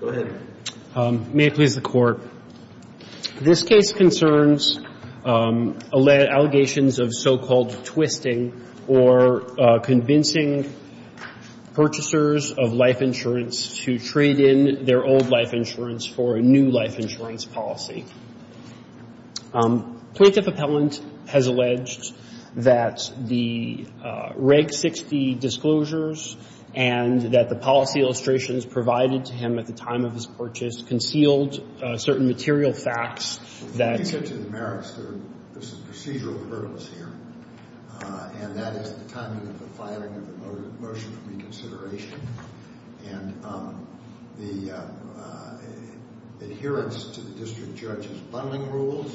Go ahead. May it please the Court, this case concerns allegations of so-called twisting or convincing purchasers of life insurance to trade in their old life insurance for a new life insurance policy. Plaintiff appellant has alleged that the Reg 60 disclosures and that the policy illustrations provided to him at the time of his purchase concealed certain material facts that… If you get to the merits, there's some procedural hurdles here. And that is the timing of the filing of the motion for reconsideration and the adherence to the district judge's bundling rules,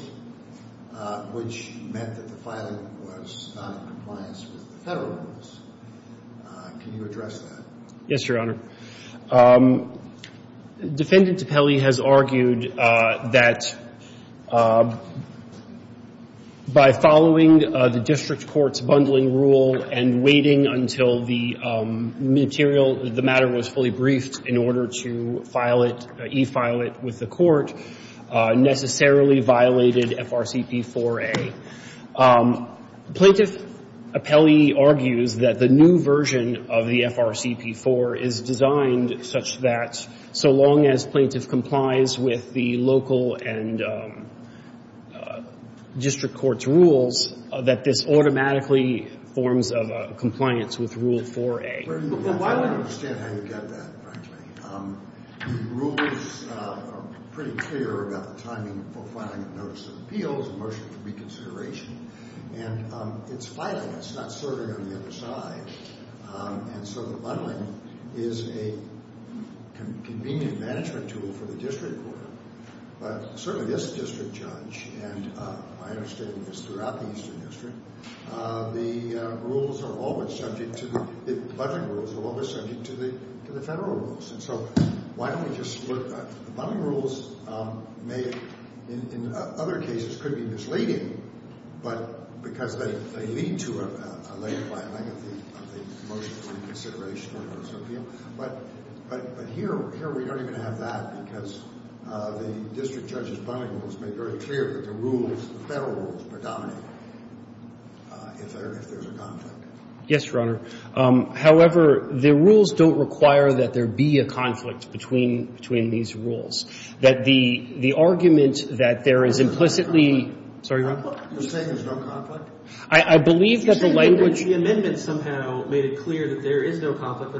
which meant that the filing was not in compliance with the Federal rules. Can you address that? Yes, Your Honor. Defendant Apelli has argued that by following the district court's bundling rule and waiting until the material, the matter was fully briefed in order to file it, e-file it with the court, necessarily violated FRCP 4A. Plaintiff Apelli argues that the new version of the FRCP 4 is designed such that so long as plaintiff complies with the local and district court's rules, that this automatically forms a compliance with Rule 4A. Why don't you understand how you get that, frankly? The rules are pretty clear about the timing for filing a notice of appeals, a motion for reconsideration. And it's filing. It's not serving on the other side. And so the bundling is a convenient management tool for the district court. But certainly this district judge, and I understand this throughout the Eastern District, the bundling rules are always subject to the Federal rules. And so why don't we just look at the bundling rules may, in other cases, could be misleading because they lead to a late filing of the motion for reconsideration or notice of appeal. But here we don't even have that because the district judge's bundling rules make very clear that the rules, the Federal rules, predominate if there's a conflict. Yes, Your Honor. However, the rules don't require that there be a conflict between these rules. That the argument that there is implicitly — You're saying there's no conflict? I believe that the language — You said that the amendment somehow made it clear that there is no conflict.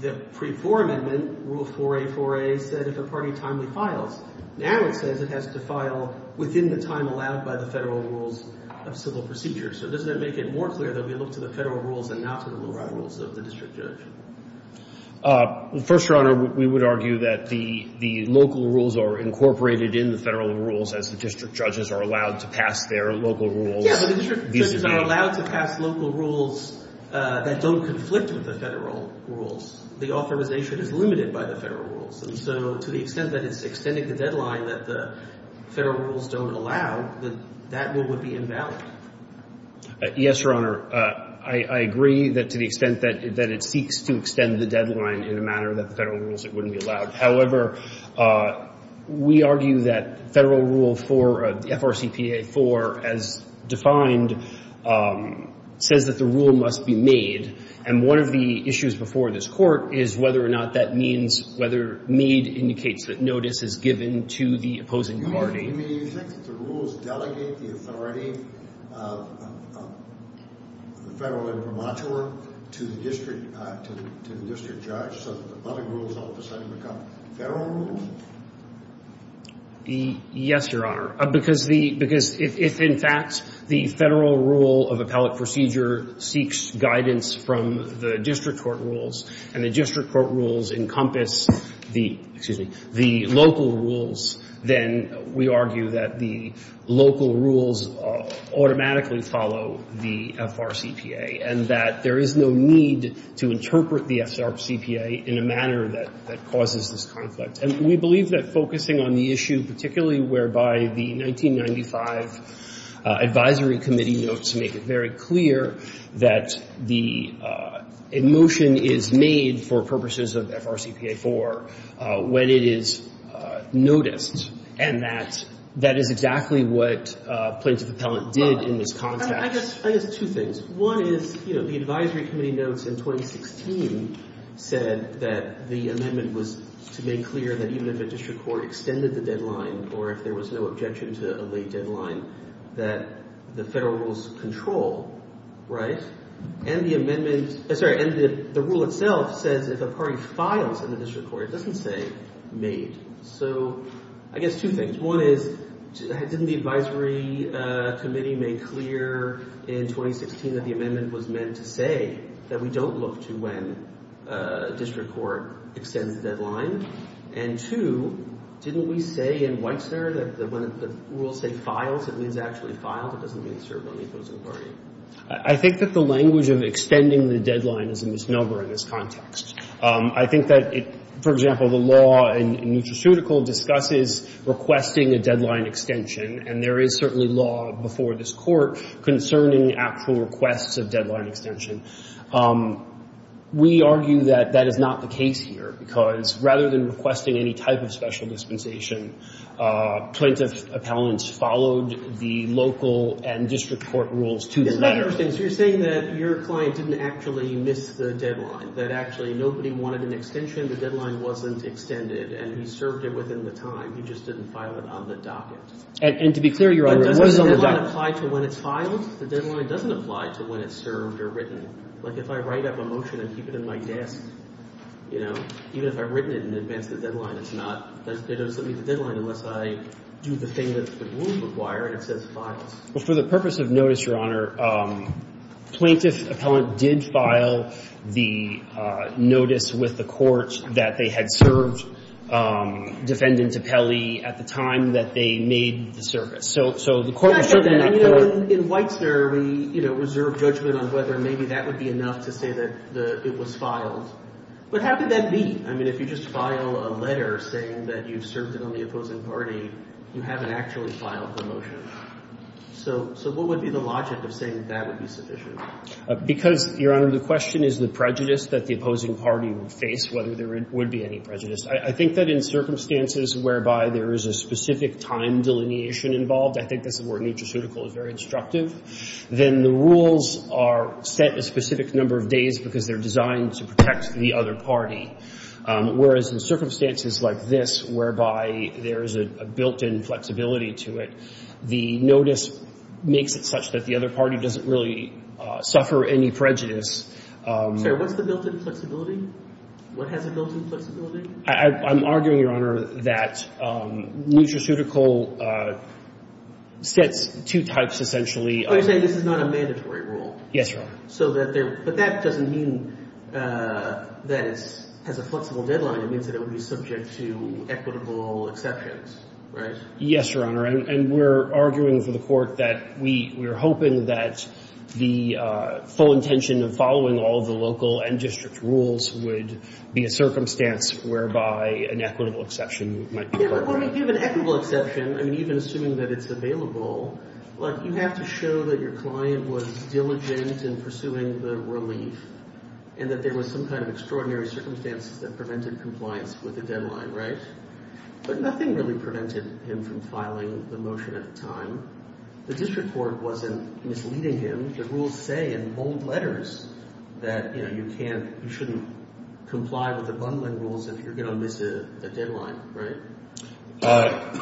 The pre-4 amendment, Rule 4A, 4A, said if a party timely files. Now it says it has to file within the time allowed by the Federal rules of civil procedure. So doesn't that make it more clear that we look to the Federal rules and not to the local rules of the district judge? First, Your Honor, we would argue that the local rules are incorporated in the Federal rules as the district judges are allowed to pass their local rules. Yeah, but the district judges are allowed to pass local rules that don't conflict with the Federal rules. The authorization is limited by the Federal rules. And so to the extent that it's extending the deadline that the Federal rules don't allow, that rule would be invalid. Yes, Your Honor. I agree that to the extent that it seeks to extend the deadline in a manner that the Federal rules, it wouldn't be allowed. However, we argue that Federal Rule 4, FRCPA 4, as defined, says that the rule must be made. And one of the issues before this Court is whether or not that means — whether made indicates that notice is given to the opposing party. You mean you think that the rules delegate the authority of the Federal imprimatur to the district — to the district judge so that the public rules all of a sudden become Federal rules? Yes, Your Honor. Because if, in fact, the Federal rule of appellate procedure seeks guidance from the district court rules and the district court rules encompass the — excuse me — the local rules, then we argue that the local rules automatically follow the FRCPA and that there is no need to interpret the FRCPA in a manner that causes this conflict. And we believe that focusing on the issue, particularly whereby the 1995 advisory committee notes make it very clear that the — a motion is made for purposes of FRCPA 4 when it is noticed and that that is exactly what plaintiff appellant did in this context. I guess two things. One is, you know, the advisory committee notes in 2016 said that the amendment was to make clear that even if a district court extended the deadline or if there was no objection to a late deadline, that the Federal rules control, right? And the amendment — sorry, and the rule itself says if a party files in the district court, it doesn't say made. So I guess two things. One is, didn't the advisory committee make clear in 2016 that the amendment was meant to say that we don't look to when a district court extends the deadline? And two, didn't we say in Whitesnare that when the rules say files, it means actually filed? It doesn't mean served on the opposing party. I think that the language of extending the deadline is a misnomer in this context. I think that, for example, the law in Nutraceutical discusses requesting a deadline extension, and there is certainly law before this Court concerning actual requests of deadline extension. We argue that that is not the case here, because rather than requesting any type of special dispensation, plaintiff appellants followed the local and district court rules to the letter. And the other thing is you're saying that your client didn't actually miss the deadline, that actually nobody wanted an extension, the deadline wasn't extended, and he served it within the time. He just didn't file it on the docket. And to be clear, Your Honor — The deadline doesn't apply to when it's filed. The deadline doesn't apply to when it's served or written. Like if I write up a motion and keep it in my desk, you know, even if I've written it in advance of the deadline, it's not — it doesn't meet the deadline unless I do the thing that the rules require and it says files. Well, for the purpose of notice, Your Honor, plaintiff appellant did file the notice with the court that they had served Defendant Tappelli at the time that they made the service. So the court was certain that — In Weitzner, we, you know, reserve judgment on whether maybe that would be enough to say that it was filed. But how could that be? I mean, if you just file a letter saying that you served it on the opposing party, you haven't actually filed the motion. So what would be the logic of saying that would be sufficient? Because, Your Honor, the question is the prejudice that the opposing party would face, whether there would be any prejudice. I think that in circumstances whereby there is a specific time delineation involved — I think that's the word, nutraceutical, is very instructive — then the rules are set a specific number of days because they're designed to protect the other party, whereas in circumstances like this, whereby there is a built-in flexibility to it, the notice makes it such that the other party doesn't really suffer any prejudice. Sir, what's the built-in flexibility? What has a built-in flexibility? I'm arguing, Your Honor, that nutraceutical sets two types, essentially. You're saying this is not a mandatory rule. Yes, Your Honor. So that there — but that doesn't mean that it has a flexible deadline. It means that it would be subject to equitable exceptions, right? Yes, Your Honor. And we're arguing for the Court that we're hoping that the full intention of following all the local and district rules would be a circumstance whereby an equitable exception might be required. Yeah, but what if you have an equitable exception? I mean, even assuming that it's available, like, you have to show that your client was diligent in pursuing the relief and that there was some kind of extraordinary circumstances that prevented compliance with the deadline, right? But nothing really prevented him from filing the motion at the time. The district court wasn't misleading him. The rules say in bold letters that, you know, you can't — you shouldn't comply with the bundling rules if you're going to miss a deadline, right?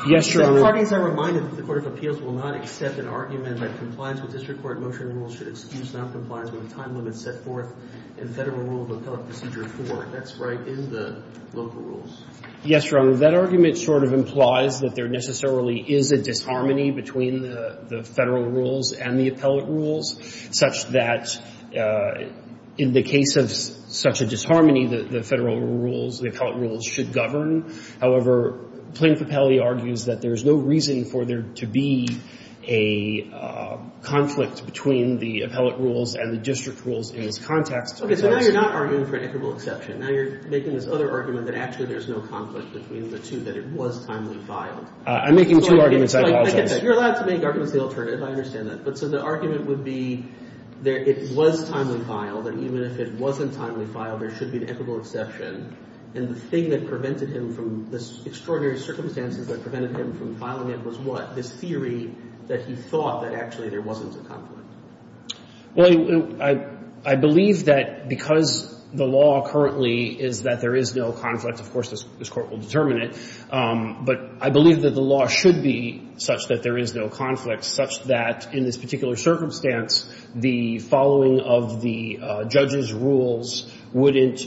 Yes, Your Honor. So the parties are reminded that the Court of Appeals will not accept an argument that compliance with district court motion rules should excuse noncompliance when the time limit is set forth in Federal Rule of Appellate Procedure 4. That's right in the local rules. Yes, Your Honor. That argument sort of implies that there necessarily is a disharmony between the Federal rules and the appellate rules, such that in the case of such a disharmony, the Federal rules, the appellate rules should govern. However, Plaintiff Appellate argues that there's no reason for there to be a conflict between the appellate rules and the district rules in this context. So now you're not arguing for an equitable exception. Now you're making this other argument that actually there's no conflict between the two, that it was timely filed. I'm making two arguments. I apologize. You're allowed to make arguments of the alternative. I understand that. But so the argument would be that it was timely filed, and even if it wasn't timely filed, there should be an equitable exception. And the thing that prevented him from this extraordinary circumstances that prevented him from filing it was what? This theory that he thought that actually there wasn't a conflict. Well, I believe that because the law currently is that there is no conflict, of course, this Court will determine it. But I believe that the law should be such that there is no conflict, such that in this particular circumstance, the following of the judge's rules wouldn't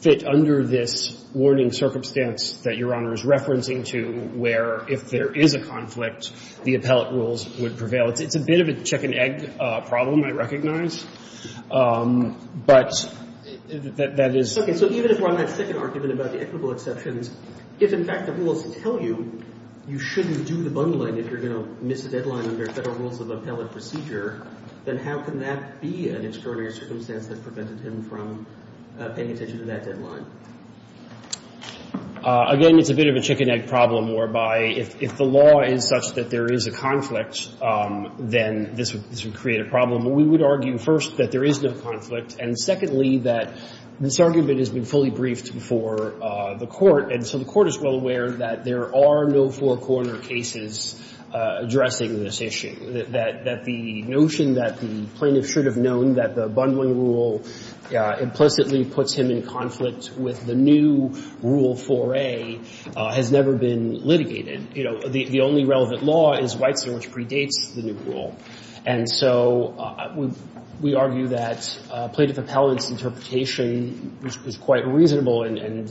fit under this warning circumstance that Your Honor is referencing to, where if there is a conflict, the appellate rules would prevail. It's a bit of a chicken-egg problem, I recognize. But that is... Okay. So even if we're on that second argument about the equitable exceptions, if in fact the rules tell you you shouldn't do the bungling if you're going to miss a deadline under federal rules of appellate procedure, then how can that be an extraordinary circumstance that prevented him from paying attention to that deadline? Again, it's a bit of a chicken-egg problem, whereby if the law is such that there is a conflict, then this would create a problem. We would argue, first, that there is no conflict, and secondly, that this argument has been fully briefed before the Court, and so the Court is well aware that there are no four-corner cases addressing this issue, that the notion that the plaintiff should have known that the bungling rule implicitly puts him in conflict with the new Rule 4a has never been litigated. You know, the only relevant law is Weitzman, which predates the new rule. And so we argue that plaintiff appellate's interpretation was quite reasonable, and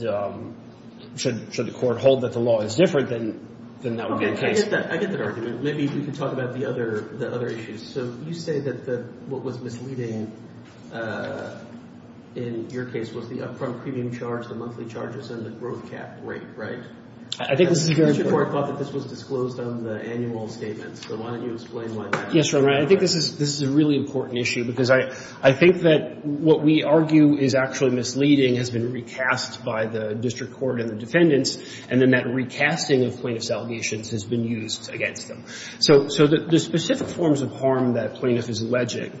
should the Court hold that the law is different than that would be the case? I get that argument. Maybe we can talk about the other issues. So you say that what was misleading in your case was the upfront premium charge, the monthly charges, and the growth cap rate, right? I think this is very important. The district court thought that this was disclosed on the annual statements, so why don't you explain why that is? Yes, Your Honor, I think this is a really important issue, because I think that what we argue is actually misleading has been recast by the district court and the defendants, and then that recasting of plaintiff's allegations has been used against them. So the specific forms of harm that a plaintiff is alleging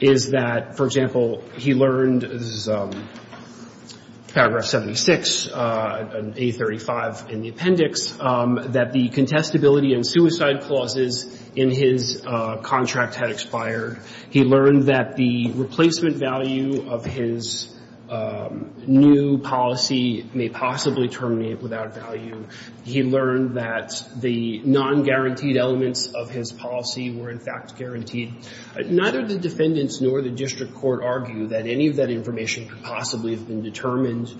is that, for example, he learned, this is paragraph 76, A35 in the appendix, that the contestability and suicide clauses in his contract had expired. He learned that the replacement value of his new policy may possibly terminate without value. He learned that the non-guaranteed elements of his policy were, in fact, guaranteed. Neither the defendants nor the district court argue that any of that information could possibly have been determined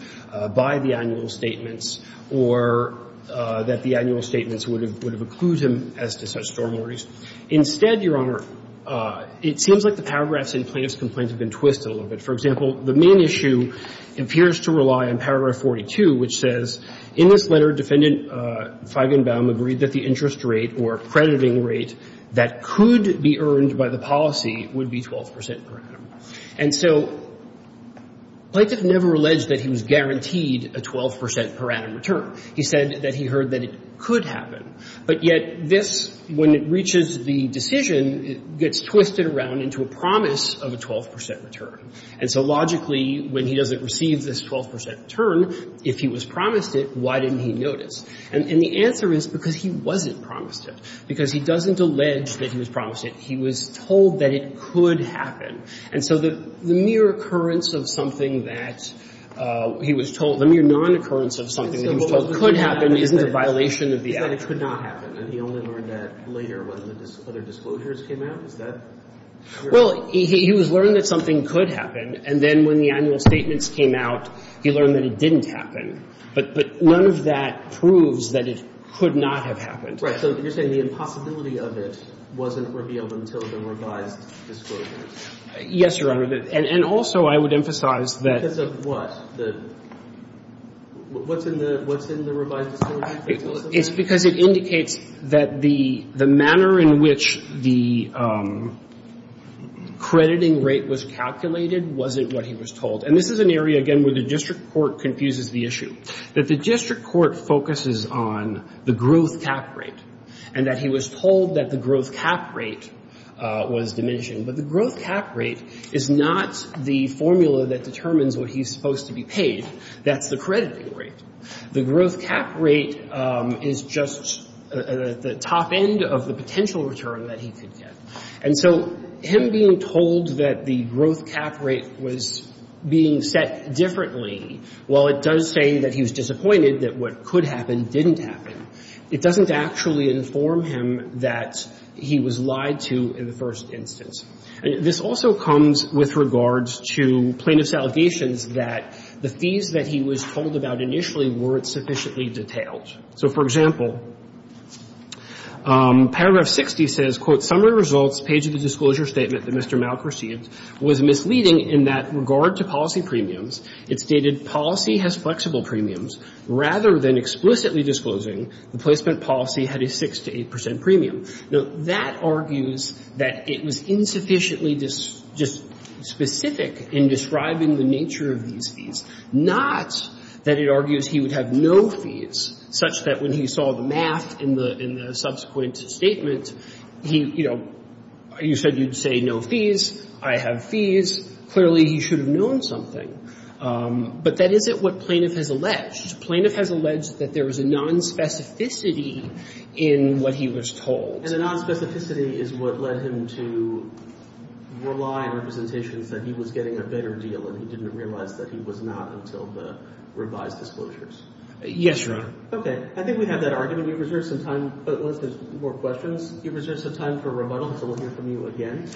by the annual statements or that the annual statements would have accrued him as to such stories. Instead, Your Honor, it seems like the paragraphs in plaintiff's complaints have been twisted a little bit. For example, the main issue appears to rely on paragraph 42, which says, in this letter, defendant Feigenbaum agreed that the interest rate or crediting rate that could be earned by the policy would be 12 percent per annum. And so plaintiff never alleged that he was guaranteed a 12 percent per annum return. He said that he heard that it could happen. But yet this, when it reaches the decision, it gets twisted around into a promise of a 12 percent return. And so logically, when he doesn't receive this 12 percent return, if he was promised it, why didn't he notice? And the answer is because he wasn't promised it. Because he doesn't allege that he was promised it. He was told that it could happen. And so the mere occurrence of something that he was told, the mere non-occurrence of something that he was told could happen isn't a violation of the act. And he only learned that later when the other disclosures came out? Is that clear? Well, he was learning that something could happen, and then when the annual statements came out, he learned that it didn't happen. But none of that proves that it could not have happened. Right. So you're saying the impossibility of it wasn't revealed until the revised disclosure? Yes, Your Honor. And also I would emphasize that the What? What's in the revised disclosure? It's because it indicates that the manner in which the crediting rate was calculated wasn't what he was told. And this is an area, again, where the district court confuses the issue. That the district court focuses on the growth cap rate and that he was told that the growth cap rate was diminished. But the growth cap rate is not the formula that determines what he's supposed to be paid. That's the crediting rate. The growth cap rate is just the top end of the potential return that he could get. And so him being told that the growth cap rate was being set differently, while it does say that he was disappointed that what could happen didn't happen, it doesn't actually inform him that he was lied to in the first instance. This also comes with regards to plaintiff's allegations that the fees that he was told about initially weren't sufficiently detailed. So, for example, paragraph 60 says, quote, summary results page of the disclosure statement that Mr. Malk received was misleading in that, in regard to policy premiums, it stated policy has flexible premiums rather than explicitly disclosing the placement policy had a 6 to 8 percent premium. Now, that argues that it was insufficiently just specific in describing the nature of these fees, not that it argues he would have no fees, such that when he saw the math in the subsequent statement, he, you know, you said you'd say no fees, I have fees. Clearly, he should have known something. But that isn't what plaintiff has alleged. Plaintiff has alleged that there was a nonspecificity in what he was told. And the nonspecificity is what led him to rely on representations that he was getting a better deal, and he didn't realize that he was not until the revised disclosures. Yes, Your Honor. Okay. I think we have that argument. We reserve some time. Unless there's more questions. We reserve some time for rebuttal until we'll hear from you again.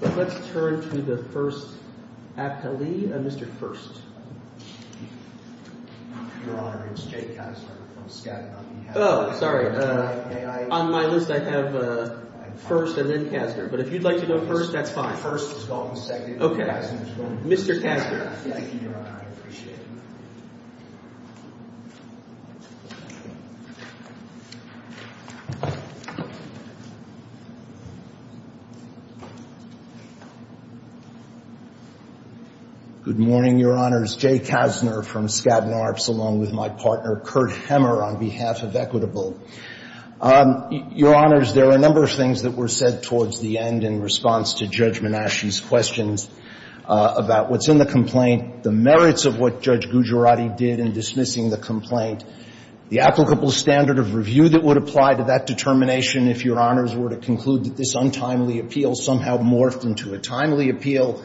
Let's turn to the first appellee, Mr. First. Your Honor, it's Jay Kastner. Oh, sorry. On my list, I have First and then Kastner. But if you'd like to go first, that's fine. Okay. Mr. Kastner. Thank you, Your Honor. I appreciate it. Good morning, Your Honors. Jay Kastner from Skadden Arps, along with my partner, Kurt Hemmer, on behalf of Equitable. Your Honors, there are a number of things that were said towards the end in response to Judge Menasche's questions about what's in the complaint, the merits of what Judge Gujarati did in dismissing the complaint, the applicable standard of review that would apply to that determination if Your Honors were to conclude that this untimely appeal somehow morphed into a timely appeal,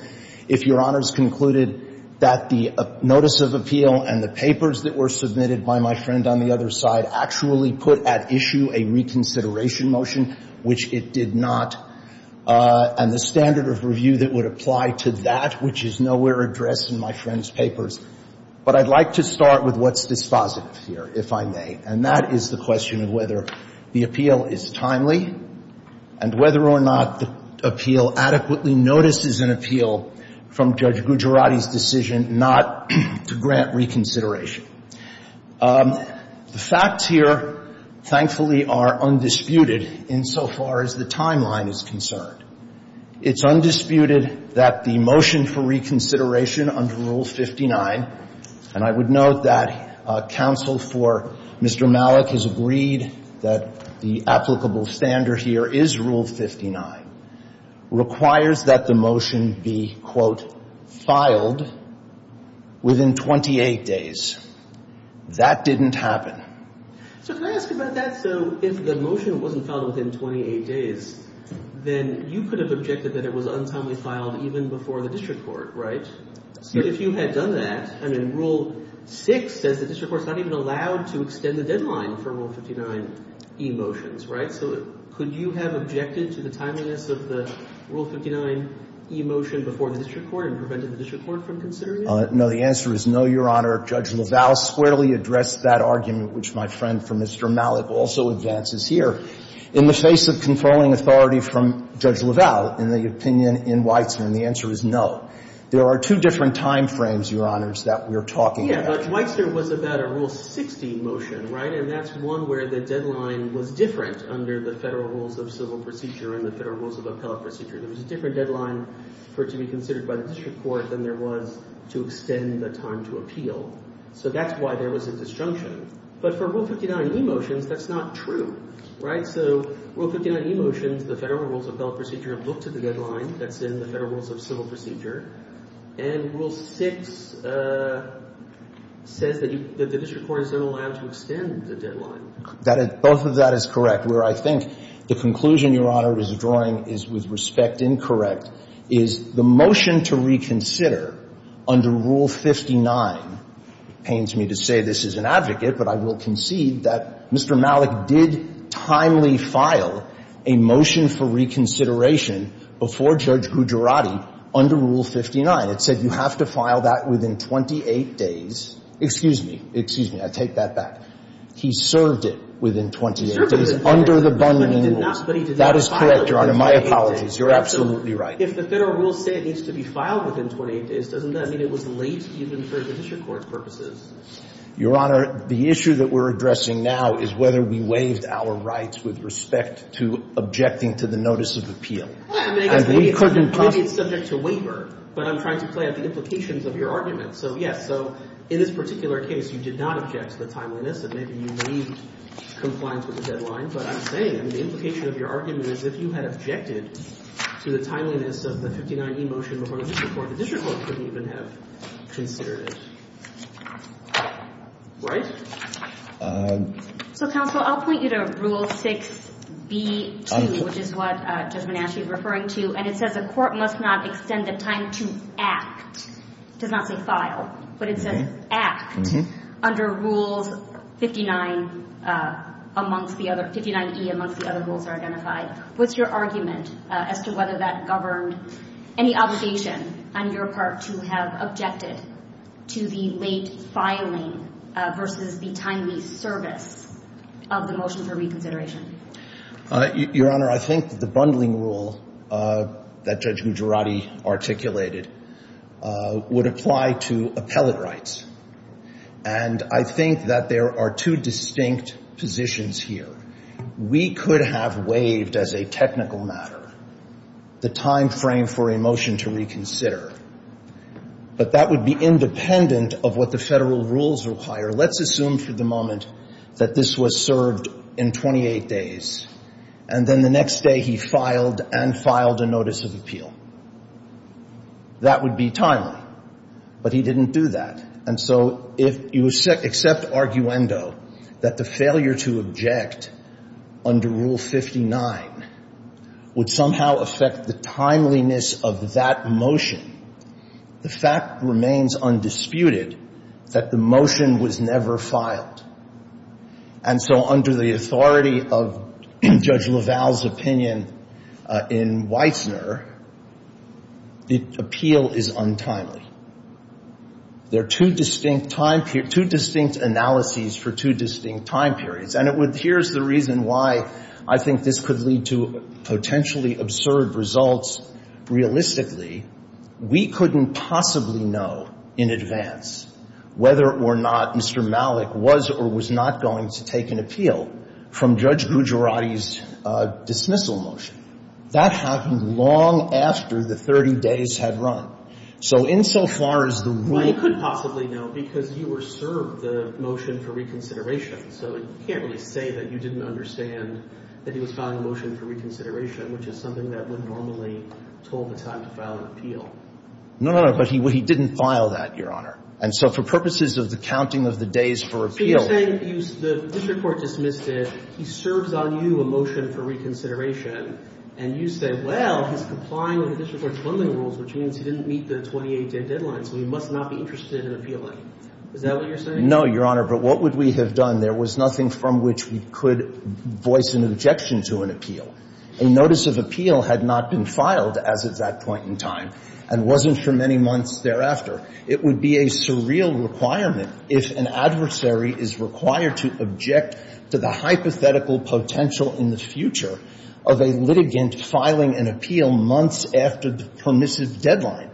if Your Honors concluded that the notice of appeal and the papers that were submitted by my friend on the other side actually put at issue a reconsideration motion, which it did not, and the standard of review that would apply to that, which is nowhere addressed in my friend's papers. But I'd like to start with what's dispositive here, if I may, and that is the question of whether the appeal is timely and whether or not the appeal adequately notices an appeal from Judge Gujarati's decision not to grant reconsideration. The facts here, thankfully, are undisputed insofar as the timeline is concerned. It's undisputed that the motion for reconsideration under Rule 59, and I would note that counsel for Mr. Malik has agreed that the applicable standard here is Rule 59, requires that the motion be, quote, filed within 28 days. That didn't happen. So can I ask about that? So if the motion wasn't filed within 28 days, then you could have objected that it was untimely filed even before the district court, right? So if you had done that, I mean, Rule 6 says the district court's not even allowed to extend the deadline for Rule 59 e-motions, right? So could you have objected to the timeliness of the Rule 59 e-motion before the district court and prevented the district court from considering it? No. The answer is no, Your Honor. Judge LaValle squarely addressed that argument, which my friend from Mr. Malik also advances here. In the face of controlling authority from Judge LaValle in the opinion in Weitzman, the answer is no. There are two different time frames, Your Honors, that we're talking about. Yeah, but Weitzman was about a Rule 60 motion, right? And that's one where the deadline was different under the Federal Rules of Civil Procedure and the Federal Rules of Appellate Procedure. There was a different deadline for it to be considered by the district court than there was to extend the time to appeal. So that's why there was a disjunction. But for Rule 59 e-motions, that's not true, right? So Rule 59 e-motions, the Federal Rules of Appellate Procedure looked at the deadline that's in the Federal Rules of Civil Procedure, and Rule 6 says that the district court is not allowed to extend the deadline. Both of that is correct. Where I think the conclusion, Your Honor, is drawing is, with respect, incorrect, is the motion to reconsider under Rule 59 pains me to say this as an advocate, but I will concede that Mr. Malik did timely file a motion for reconsideration before Judge Gujarati under Rule 59. It said you have to file that within 28 days. Excuse me. Excuse me. I take that back. He served it within 28 days under the bargaining rules. He served it within 28 days, but he did not file it within 28 days. That is correct, Your Honor. My apologies. You're absolutely right. If the Federal Rules say it needs to be filed within 28 days, doesn't that mean it was late even for the district court's purposes? Your Honor, the issue that we're addressing now is whether we waived our rights with respect to objecting to the notice of appeal. Maybe it's subject to waiver, but I'm trying to play out the implications of your argument. So, yes, so in this particular case, you did not object to the timeliness of maybe you made compliance with the deadline, but I'm saying, I mean, the implication of your argument is if you had objected to the timeliness of the 59e motion before the district court, the district court couldn't even have considered it. Right? So, counsel, I'll point you to Rule 6b-2, which is what Judge Menachie is referring to, and it says the court must not extend the time to act. It does not say file, but it says act under Rules 59e amongst the other rules that are identified. What's your argument as to whether that governed any obligation on your part to have objected to the late filing versus the timely service of the motion for reconsideration? Your Honor, I think the bundling rule that Judge Gujarati articulated would apply to appellate rights, and I think that there are two distinct positions here. We could have waived as a technical matter the time frame for a motion to reconsider, but that would be independent of what the federal rules require. Let's assume for the moment that this was served in 28 days, and then the next day he filed and filed a notice of appeal. That would be timely, but he didn't do that, and so if you accept arguendo that the failure to object under Rule 59 would somehow affect the timeliness of that motion, the fact remains undisputed that the motion was never filed. And so under the authority of Judge LaValle's opinion in Weitzner, the appeal is untimely. There are two distinct time periods, two distinct analyses for two distinct time periods, and here's the reason why I think this could lead to potentially absurd results. Realistically, we couldn't possibly know in advance whether or not Mr. Malik was or was not going to take an appeal from Judge Gujarati's dismissal motion. That happened long after the 30 days had run. So insofar as the rule could possibly know, because you were served the motion for reconsideration, so you can't really say that you didn't understand that he was filing a motion for reconsideration, which is something that would normally toll the time to file an appeal. No, no, but he didn't file that, Your Honor. And so for purposes of the counting of the days for appeal So you're saying the district court dismissed it, he serves on you a motion for reconsideration, and you say, well, he's complying with the district court's funding rules, which means he didn't meet the 28-day deadline, so he must not be interested in appealing. Is that what you're saying? No, Your Honor. But what would we have done? There was nothing from which we could voice an objection to an appeal. A notice of appeal had not been filed as of that point in time and wasn't for many months thereafter. It would be a surreal requirement if an adversary is required to object to the hypothetical potential in the future of a litigant filing an appeal months after the permissive deadline.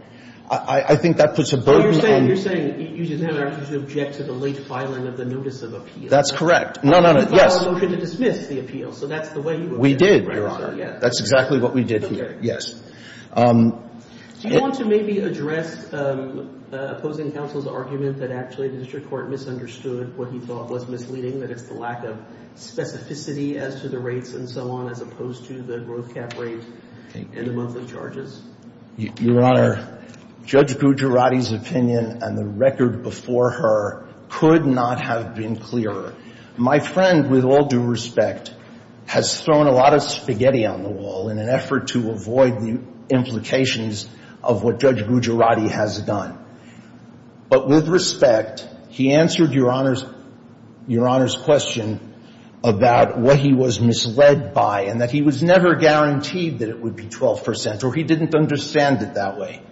I think that puts a burden on You're saying you didn't have an opportunity to object to the late filing of the notice of appeal. That's correct. No, no, no. Yes. He filed a motion to dismiss the appeal, so that's the way he would have done it. We did, Your Honor. That's exactly what we did here. Yes. Do you want to maybe address opposing counsel's argument that actually the district court misunderstood what he thought was misleading, that it's the lack of specificity as to the rates and so on as opposed to the growth cap rate and the monthly charges? Your Honor, Judge Gujarati's opinion and the record before her could not have been clearer. My friend, with all due respect, has thrown a lot of spaghetti on the wall in an effort to avoid the implications of what Judge Gujarati has done. But with respect, he answered Your Honor's question about what he was misled by and that he was never guaranteed that it would be 12 percent or he didn't understand it that way.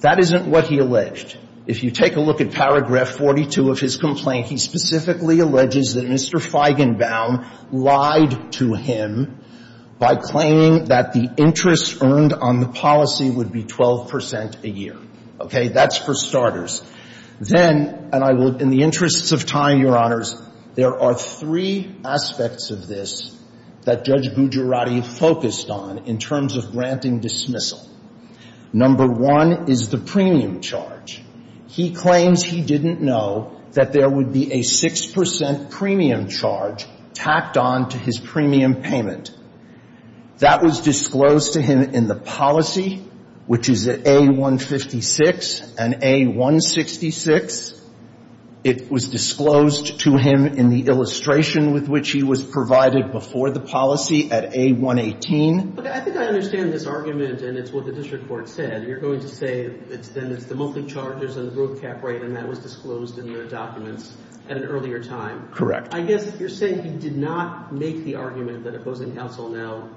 That isn't what he alleged. If you take a look at paragraph 42 of his complaint, he specifically alleges that Mr. Feigenbaum lied to him by claiming that the interest earned on the three aspects of this that Judge Gujarati focused on in terms of granting dismissal. Number one is the premium charge. He claims he didn't know that there would be a 6 percent premium charge tacked on to his premium payment. That was disclosed to him in the policy, which is A-156 and A-166. It was disclosed to him in the policy and it was disclosed to him in the illustration with which he was provided before the policy at A-118. I think I understand this argument and it's what the district court said. You're going to say then it's the monthly charges and the growth cap rate and that was disclosed in the documents at an earlier time. Correct. I guess you're saying he did not make the argument that opposing counsel now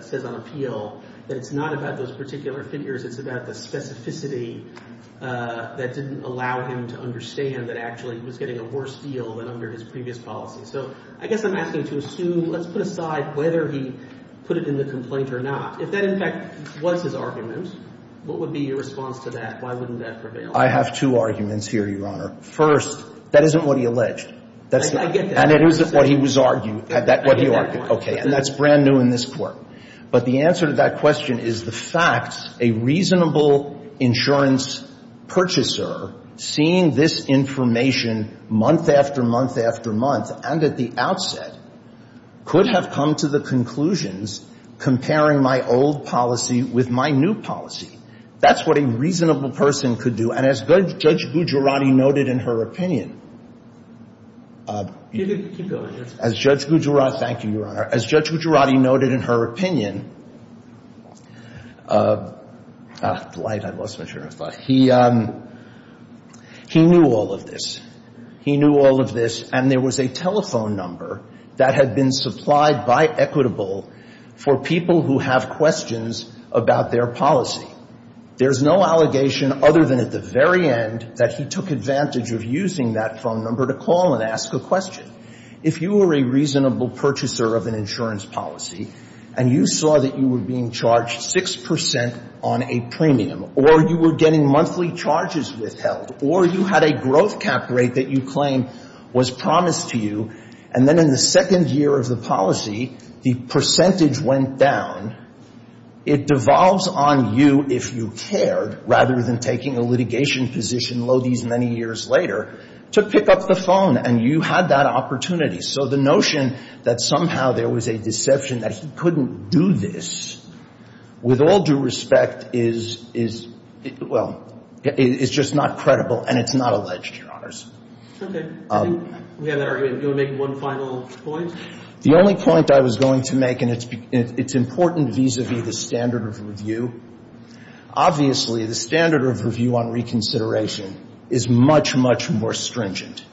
says on appeal that it's not about those particular figures, it's about the specificity of the case. So you're saying that he had a complaint that didn't allow him to understand that actually he was getting a worse deal than under his previous policy. So I guess I'm asking to assume, let's put aside whether he put it in the complaint or not, if that in fact was his argument, what would be your response to that? Why wouldn't that prevail? I have two arguments here, Your Honor. First, that isn't what he alleged. I get that. And it isn't what he was arguing, what he argued. Okay. And that's brand new in this court. But the answer to that question is the fact a reasonable insurance purchaser seeing this information month after month after month and at the outset could have come to the conclusions comparing my old policy with my new policy. That's what a reasonable person could do. And as Judge Gujarati noted in her opinion, he knew all of this. He knew all of this. And there was a telephone number that had been supplied by Equitable for people who have questions about their policy. There's no allegation other than at the very end that he took advantage of using that phone number to call and ask a question. If you were a reasonable purchaser of an insurance policy and you saw that you were being charged 6 percent on a premium or you were getting monthly charges withheld or you had a growth cap rate that you claim was promised to you, and then in the second year of the policy, the percentage went down, it devolves on you if you cared rather than taking a litigation position many years later to pick up the phone. And you had that opportunity. So the notion that somehow there was a deception that he couldn't do this with all due respect is, well, it's just not credible and it's not alleged, Your Honors. Okay. I think we have that argument. Do you want to make one final point? The only point I was going to make, and it's important vis-a-vis the standard of review, obviously the standard of review on reconsideration is much, much more stringent.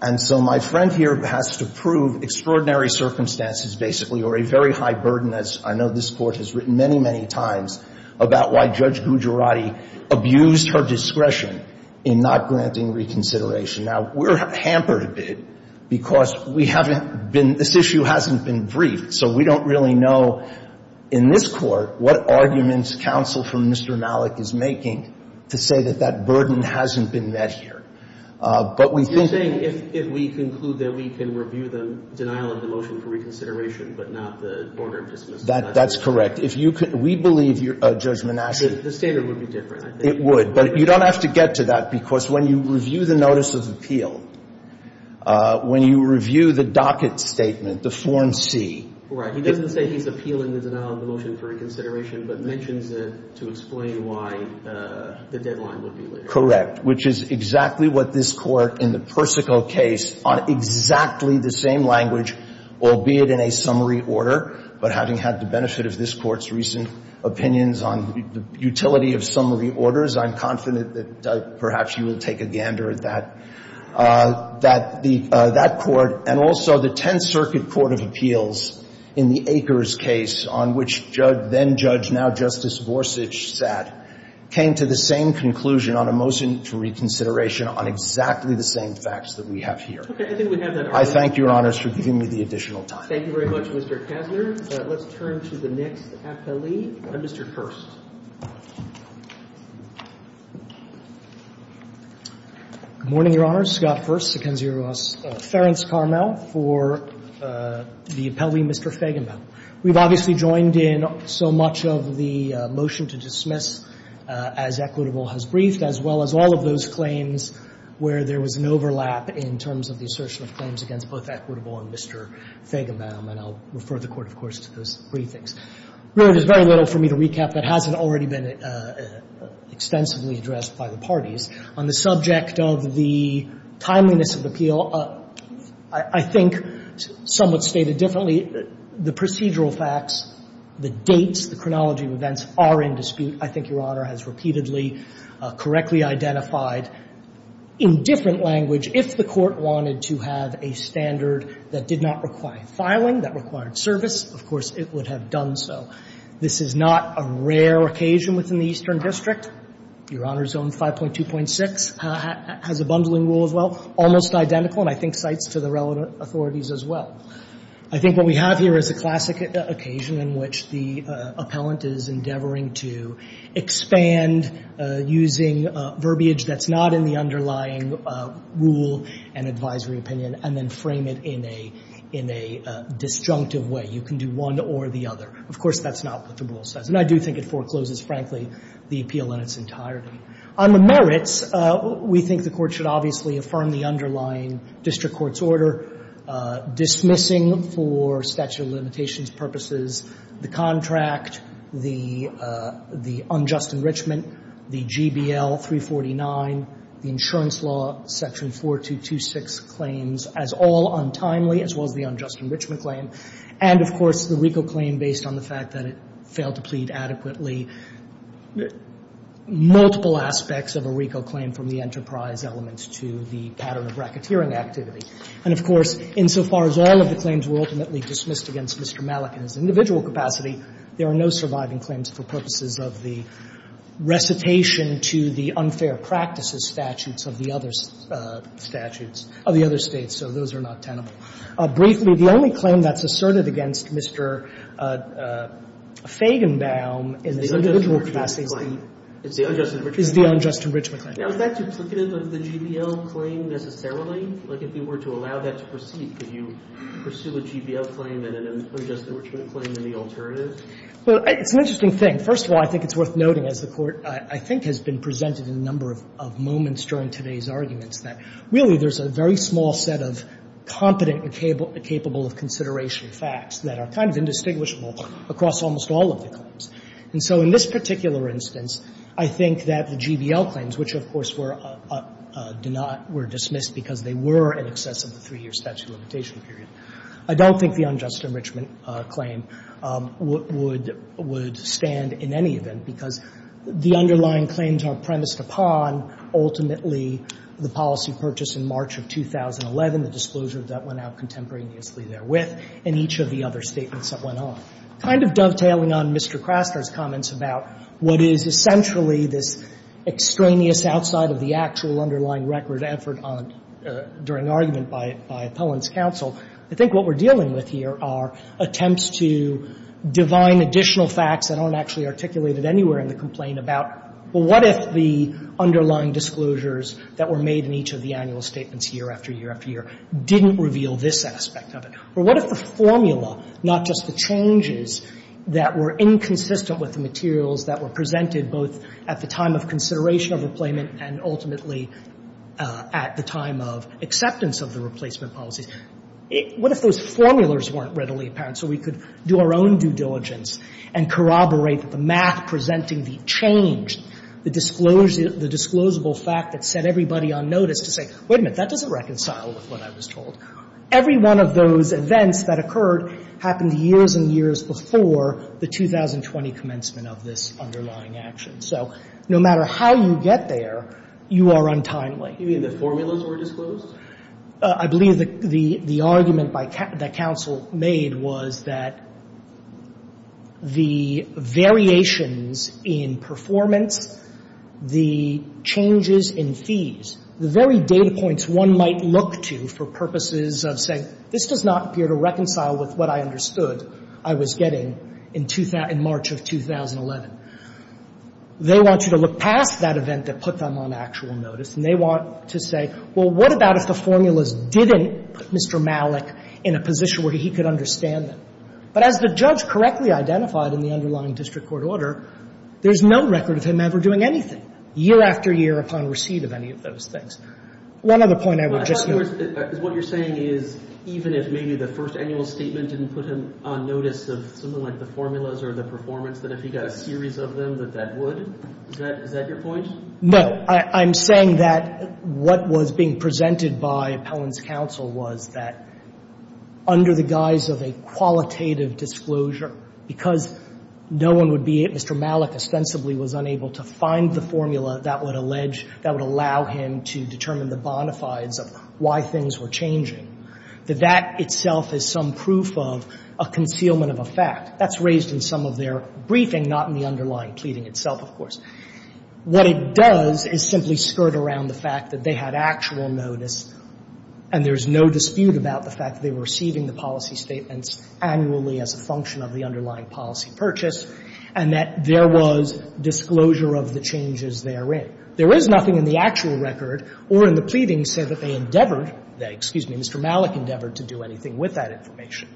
And so my friend here has to prove extraordinary circumstances basically or a very high burden, as I know this Court has written many, many times, about why Judge Gujarati abused her discretion in not granting reconsideration. Now, we're hampered a bit because we haven't been — this issue hasn't been briefed, so we don't really know in this Court what arguments counsel from Mr. Malik is making to say that that burden hasn't been met here. But we think — You're saying if we conclude that we can review the denial of the motion for reconsideration but not the order of dismissal. That's correct. If you could — we believe, Judge Manasseh — The standard would be different, I think. It would. But you don't have to get to that because when you review the notice of appeal, when you review the docket statement, the Form C — Right. He doesn't say he's appealing the denial of the motion for reconsideration but mentions it to explain why the deadline would be later. Correct. Which is exactly what this Court in the Persico case on exactly the same language, albeit in a summary order, but having had the benefit of this Court's recent opinions on the utility of summary orders, I'm confident that perhaps you will take a gander at that. That the — that Court, and also the Tenth Circuit Court of Appeals in the Akers case on which Judge — then-Judge, now-Justice Borsig sat, came to the same conclusion on a motion for reconsideration on exactly the same facts that we have here. Okay. I think we have that argument. I thank Your Honors for giving me the additional time. Thank you very much, Mr. Kassner. Let's turn to the next appellee, Mr. Kirst. Good morning, Your Honors. Scott Fuerst, Secundus Ference-Carmel for the appellee, Mr. Feigenbaum. We've obviously joined in so much of the motion to dismiss as equitable has briefed, as well as all of those claims where there was an overlap in terms of the assertion of claims against both equitable and Mr. Feigenbaum. And I'll refer the Court, of course, to those briefings. Really, there's very little for me to recap that hasn't already been extensively addressed by the parties. On the subject of the timeliness of appeal, I think somewhat stated differently, the procedural facts, the dates, the chronology of events are in dispute. I think Your Honor has repeatedly correctly identified in different language if the Court wanted to have a standard that did not require filing, that required service, of course, it would have done so. This is not a rare occasion within the Eastern District. Your Honor's own 5.2.6 has a bundling rule as well, almost identical, and I think cites to the relevant authorities as well. I think what we have here is a classic occasion in which the appellant is endeavoring to expand using verbiage that's not in the underlying rule and advisory opinion and then frame it in a disjunctive way. You can do one or the other. Of course, that's not what the rule says. And I do think it forecloses, frankly, the appeal in its entirety. On the merits, we think the Court should obviously affirm the underlying district court's order dismissing for statute of limitations purposes the contract, the unjust enrichment, the GBL 349, the insurance law section 4226 claims as all untimely as well as the unjust enrichment claim, and, of course, the RICO claim based on the fact that it failed to plead adequately. Multiple aspects of a RICO claim from the enterprise elements to the pattern of racketeering activity. And, of course, insofar as all of the claims were ultimately dismissed against Mr. Malik in his individual capacity, there are no surviving claims for purposes of the recitation to the unfair practices statutes of the other statutes of the other States, so those are not tenable. Briefly, the only claim that's asserted against Mr. Fagenbaum in his individual capacity is the unjust enrichment claim. Is that duplicative of the GBL claim necessarily? Like, if you were to allow that to proceed, could you pursue a GBL claim and an unjust enrichment claim in the alternative? Well, it's an interesting thing. First of all, I think it's worth noting, as the Court, I think, has been presented in a number of moments during today's arguments, that really there's a very small set of competent and capable of consideration facts that are kind of indistinguishable across almost all of the claims. And so in this particular instance, I think that the GBL claims, which, of course, were dismissed because they were in excess of the three-year statute of limitation period, I don't think the unjust enrichment claim would stand in any event, because the underlying claims are premised upon, ultimately, the policy purchase in March of 2011, the disclosure that went out contemporaneously therewith, and each of the other statements that went on. Kind of dovetailing on Mr. Craster's comments about what is essentially this extraneous outside of the actual underlying record effort on, during argument by Appellant's counsel, I think what we're dealing with here are attempts to divine additional facts that aren't actually articulated anywhere in the complaint about, well, what if the underlying disclosures that were made in each of the annual statements year after year after year didn't reveal this aspect of it? Or what if the formula, not just the changes that were inconsistent with the materials that were presented both at the time of consideration of the claimant and ultimately at the time of acceptance of the replacement policies, what if those formulas weren't readily apparent so we could do our own due diligence and corroborate the math presenting the change, the disclosable fact that set everybody on notice to say, wait a minute, that doesn't reconcile with what I was told. Every one of those events that occurred happened years and years before the 2020 commencement of this underlying action. So no matter how you get there, you are untimely. You mean the formulas were disclosed? I believe the argument that counsel made was that the variations in performance, the changes in fees, the very data points one might look to for purposes of saying reconcile with what I understood I was getting in March of 2011. They want you to look past that event that put them on actual notice, and they want to say, well, what about if the formulas didn't put Mr. Malik in a position where he could understand them? But as the judge correctly identified in the underlying district court order, there's no record of him ever doing anything year after year upon receipt of any of those things. One other point I would just note. What you're saying is even if maybe the first annual statement didn't put him on notice of something like the formulas or the performance, that if he got a series of them, that that would? Is that your point? No. I'm saying that what was being presented by Appellant's counsel was that under the guise of a qualitative disclosure, because no one would be, Mr. Malik ostensibly was unable to find the formula that would allege, that would allow him to determine the bona fides of why things were changing, that that itself is some proof of a concealment of a fact. That's raised in some of their briefing, not in the underlying pleading itself, of course. What it does is simply skirt around the fact that they had actual notice, and there's no dispute about the fact that they were receiving the policy statements annually as a function of the underlying policy purchase, and that there was disclosure of the changes therein. There is nothing in the actual record or in the pleading said that they endeavored that, excuse me, Mr. Malik endeavored to do anything with that information.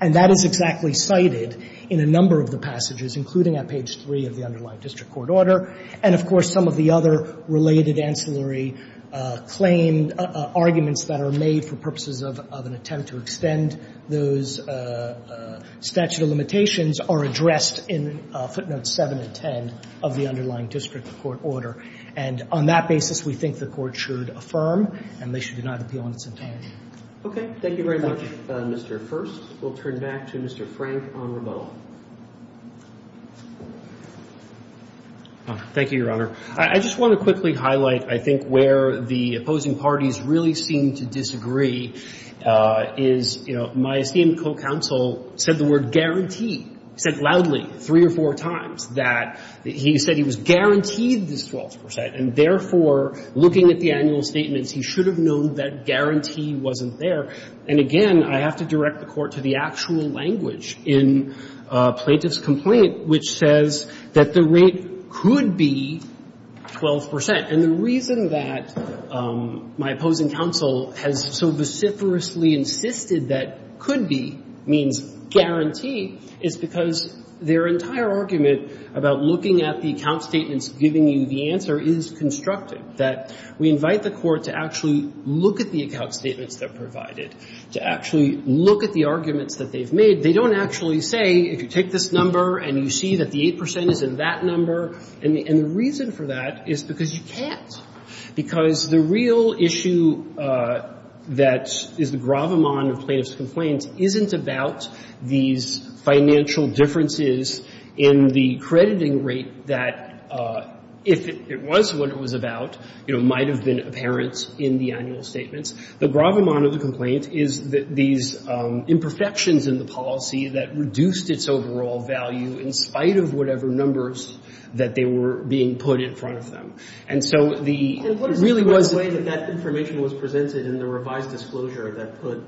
And that is exactly cited in a number of the passages, including on page 3 of the underlying district court order, and, of course, some of the other related ancillary claim arguments that are made for purposes of an attempt to extend those statute of limitations are addressed in footnotes 7 and 10 of the underlying district court order. And on that basis, we think the Court should affirm and they should not appeal in its entirety. Roberts. Okay. Thank you very much, Mr. First. We'll turn back to Mr. Frank on rebuttal. Thank you, Your Honor. I just want to quickly highlight, I think, where the opposing parties really seem to disagree is, you know, my esteemed co-counsel said the word guarantee. He said loudly three or four times that he said he was guaranteed this 12 percent and, therefore, looking at the annual statements, he should have known that guarantee wasn't there. And, again, I have to direct the Court to the actual language in Plaintiff's complaint, which says that the rate could be 12 percent. And the reason that my opposing counsel has so vociferously insisted that could be means guarantee is because their entire argument about looking at the account statements giving you the answer is constructive. That we invite the Court to actually look at the account statements that are provided, to actually look at the arguments that they've made. They don't actually say, if you take this number and you see that the 8 percent is in that number. And the reason for that is because you can't. Because the real issue that is the gravamon of Plaintiff's complaint isn't about these financial differences in the crediting rate that, if it was what it was about, you know, might have been apparent in the annual statements. The gravamon of the complaint is these imperfections in the policy that reduced its overall value in spite of whatever numbers that they were being put in front of them. And so the really was. And what is the way that that information was presented in the revised disclosure that put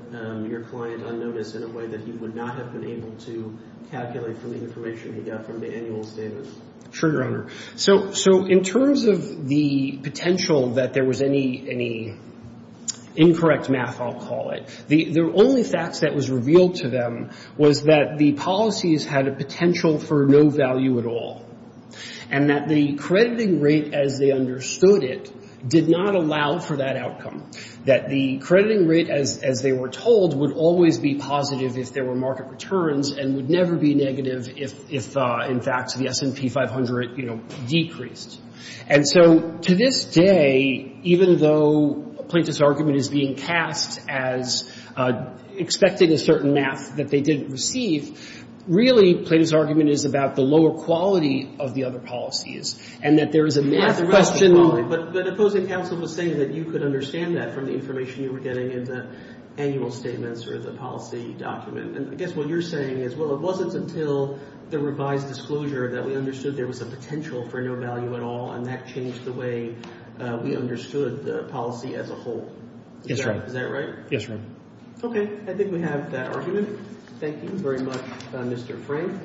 your client on notice in a way that he would not have been able to calculate from the information he got from the annual statements? Sure, Your Honor. So in terms of the potential that there was any incorrect math, I'll call it, the only facts that was revealed to them was that the policies had a potential for no value at all. And that the crediting rate as they understood it did not allow for that outcome. That the crediting rate, as they were told, would always be positive if there were market returns and would never be negative if, in fact, the S&P 500, you know, decreased. And so to this day, even though Plaintiff's argument is being cast as expecting a certain math that they didn't receive, really Plaintiff's argument is about the lower quality of the other policies and that there is a math question. But the opposing counsel was saying that you could understand that from the information you were getting in the annual statements or the policy document. And I guess what you're saying is, well, it wasn't until the revised disclosure that we understood there was a potential for no value at all, and that changed the way we understood the policy as a whole. Is that right? Yes, Your Honor. Okay. I think we have that argument. Thank you very much, Mr. Frank.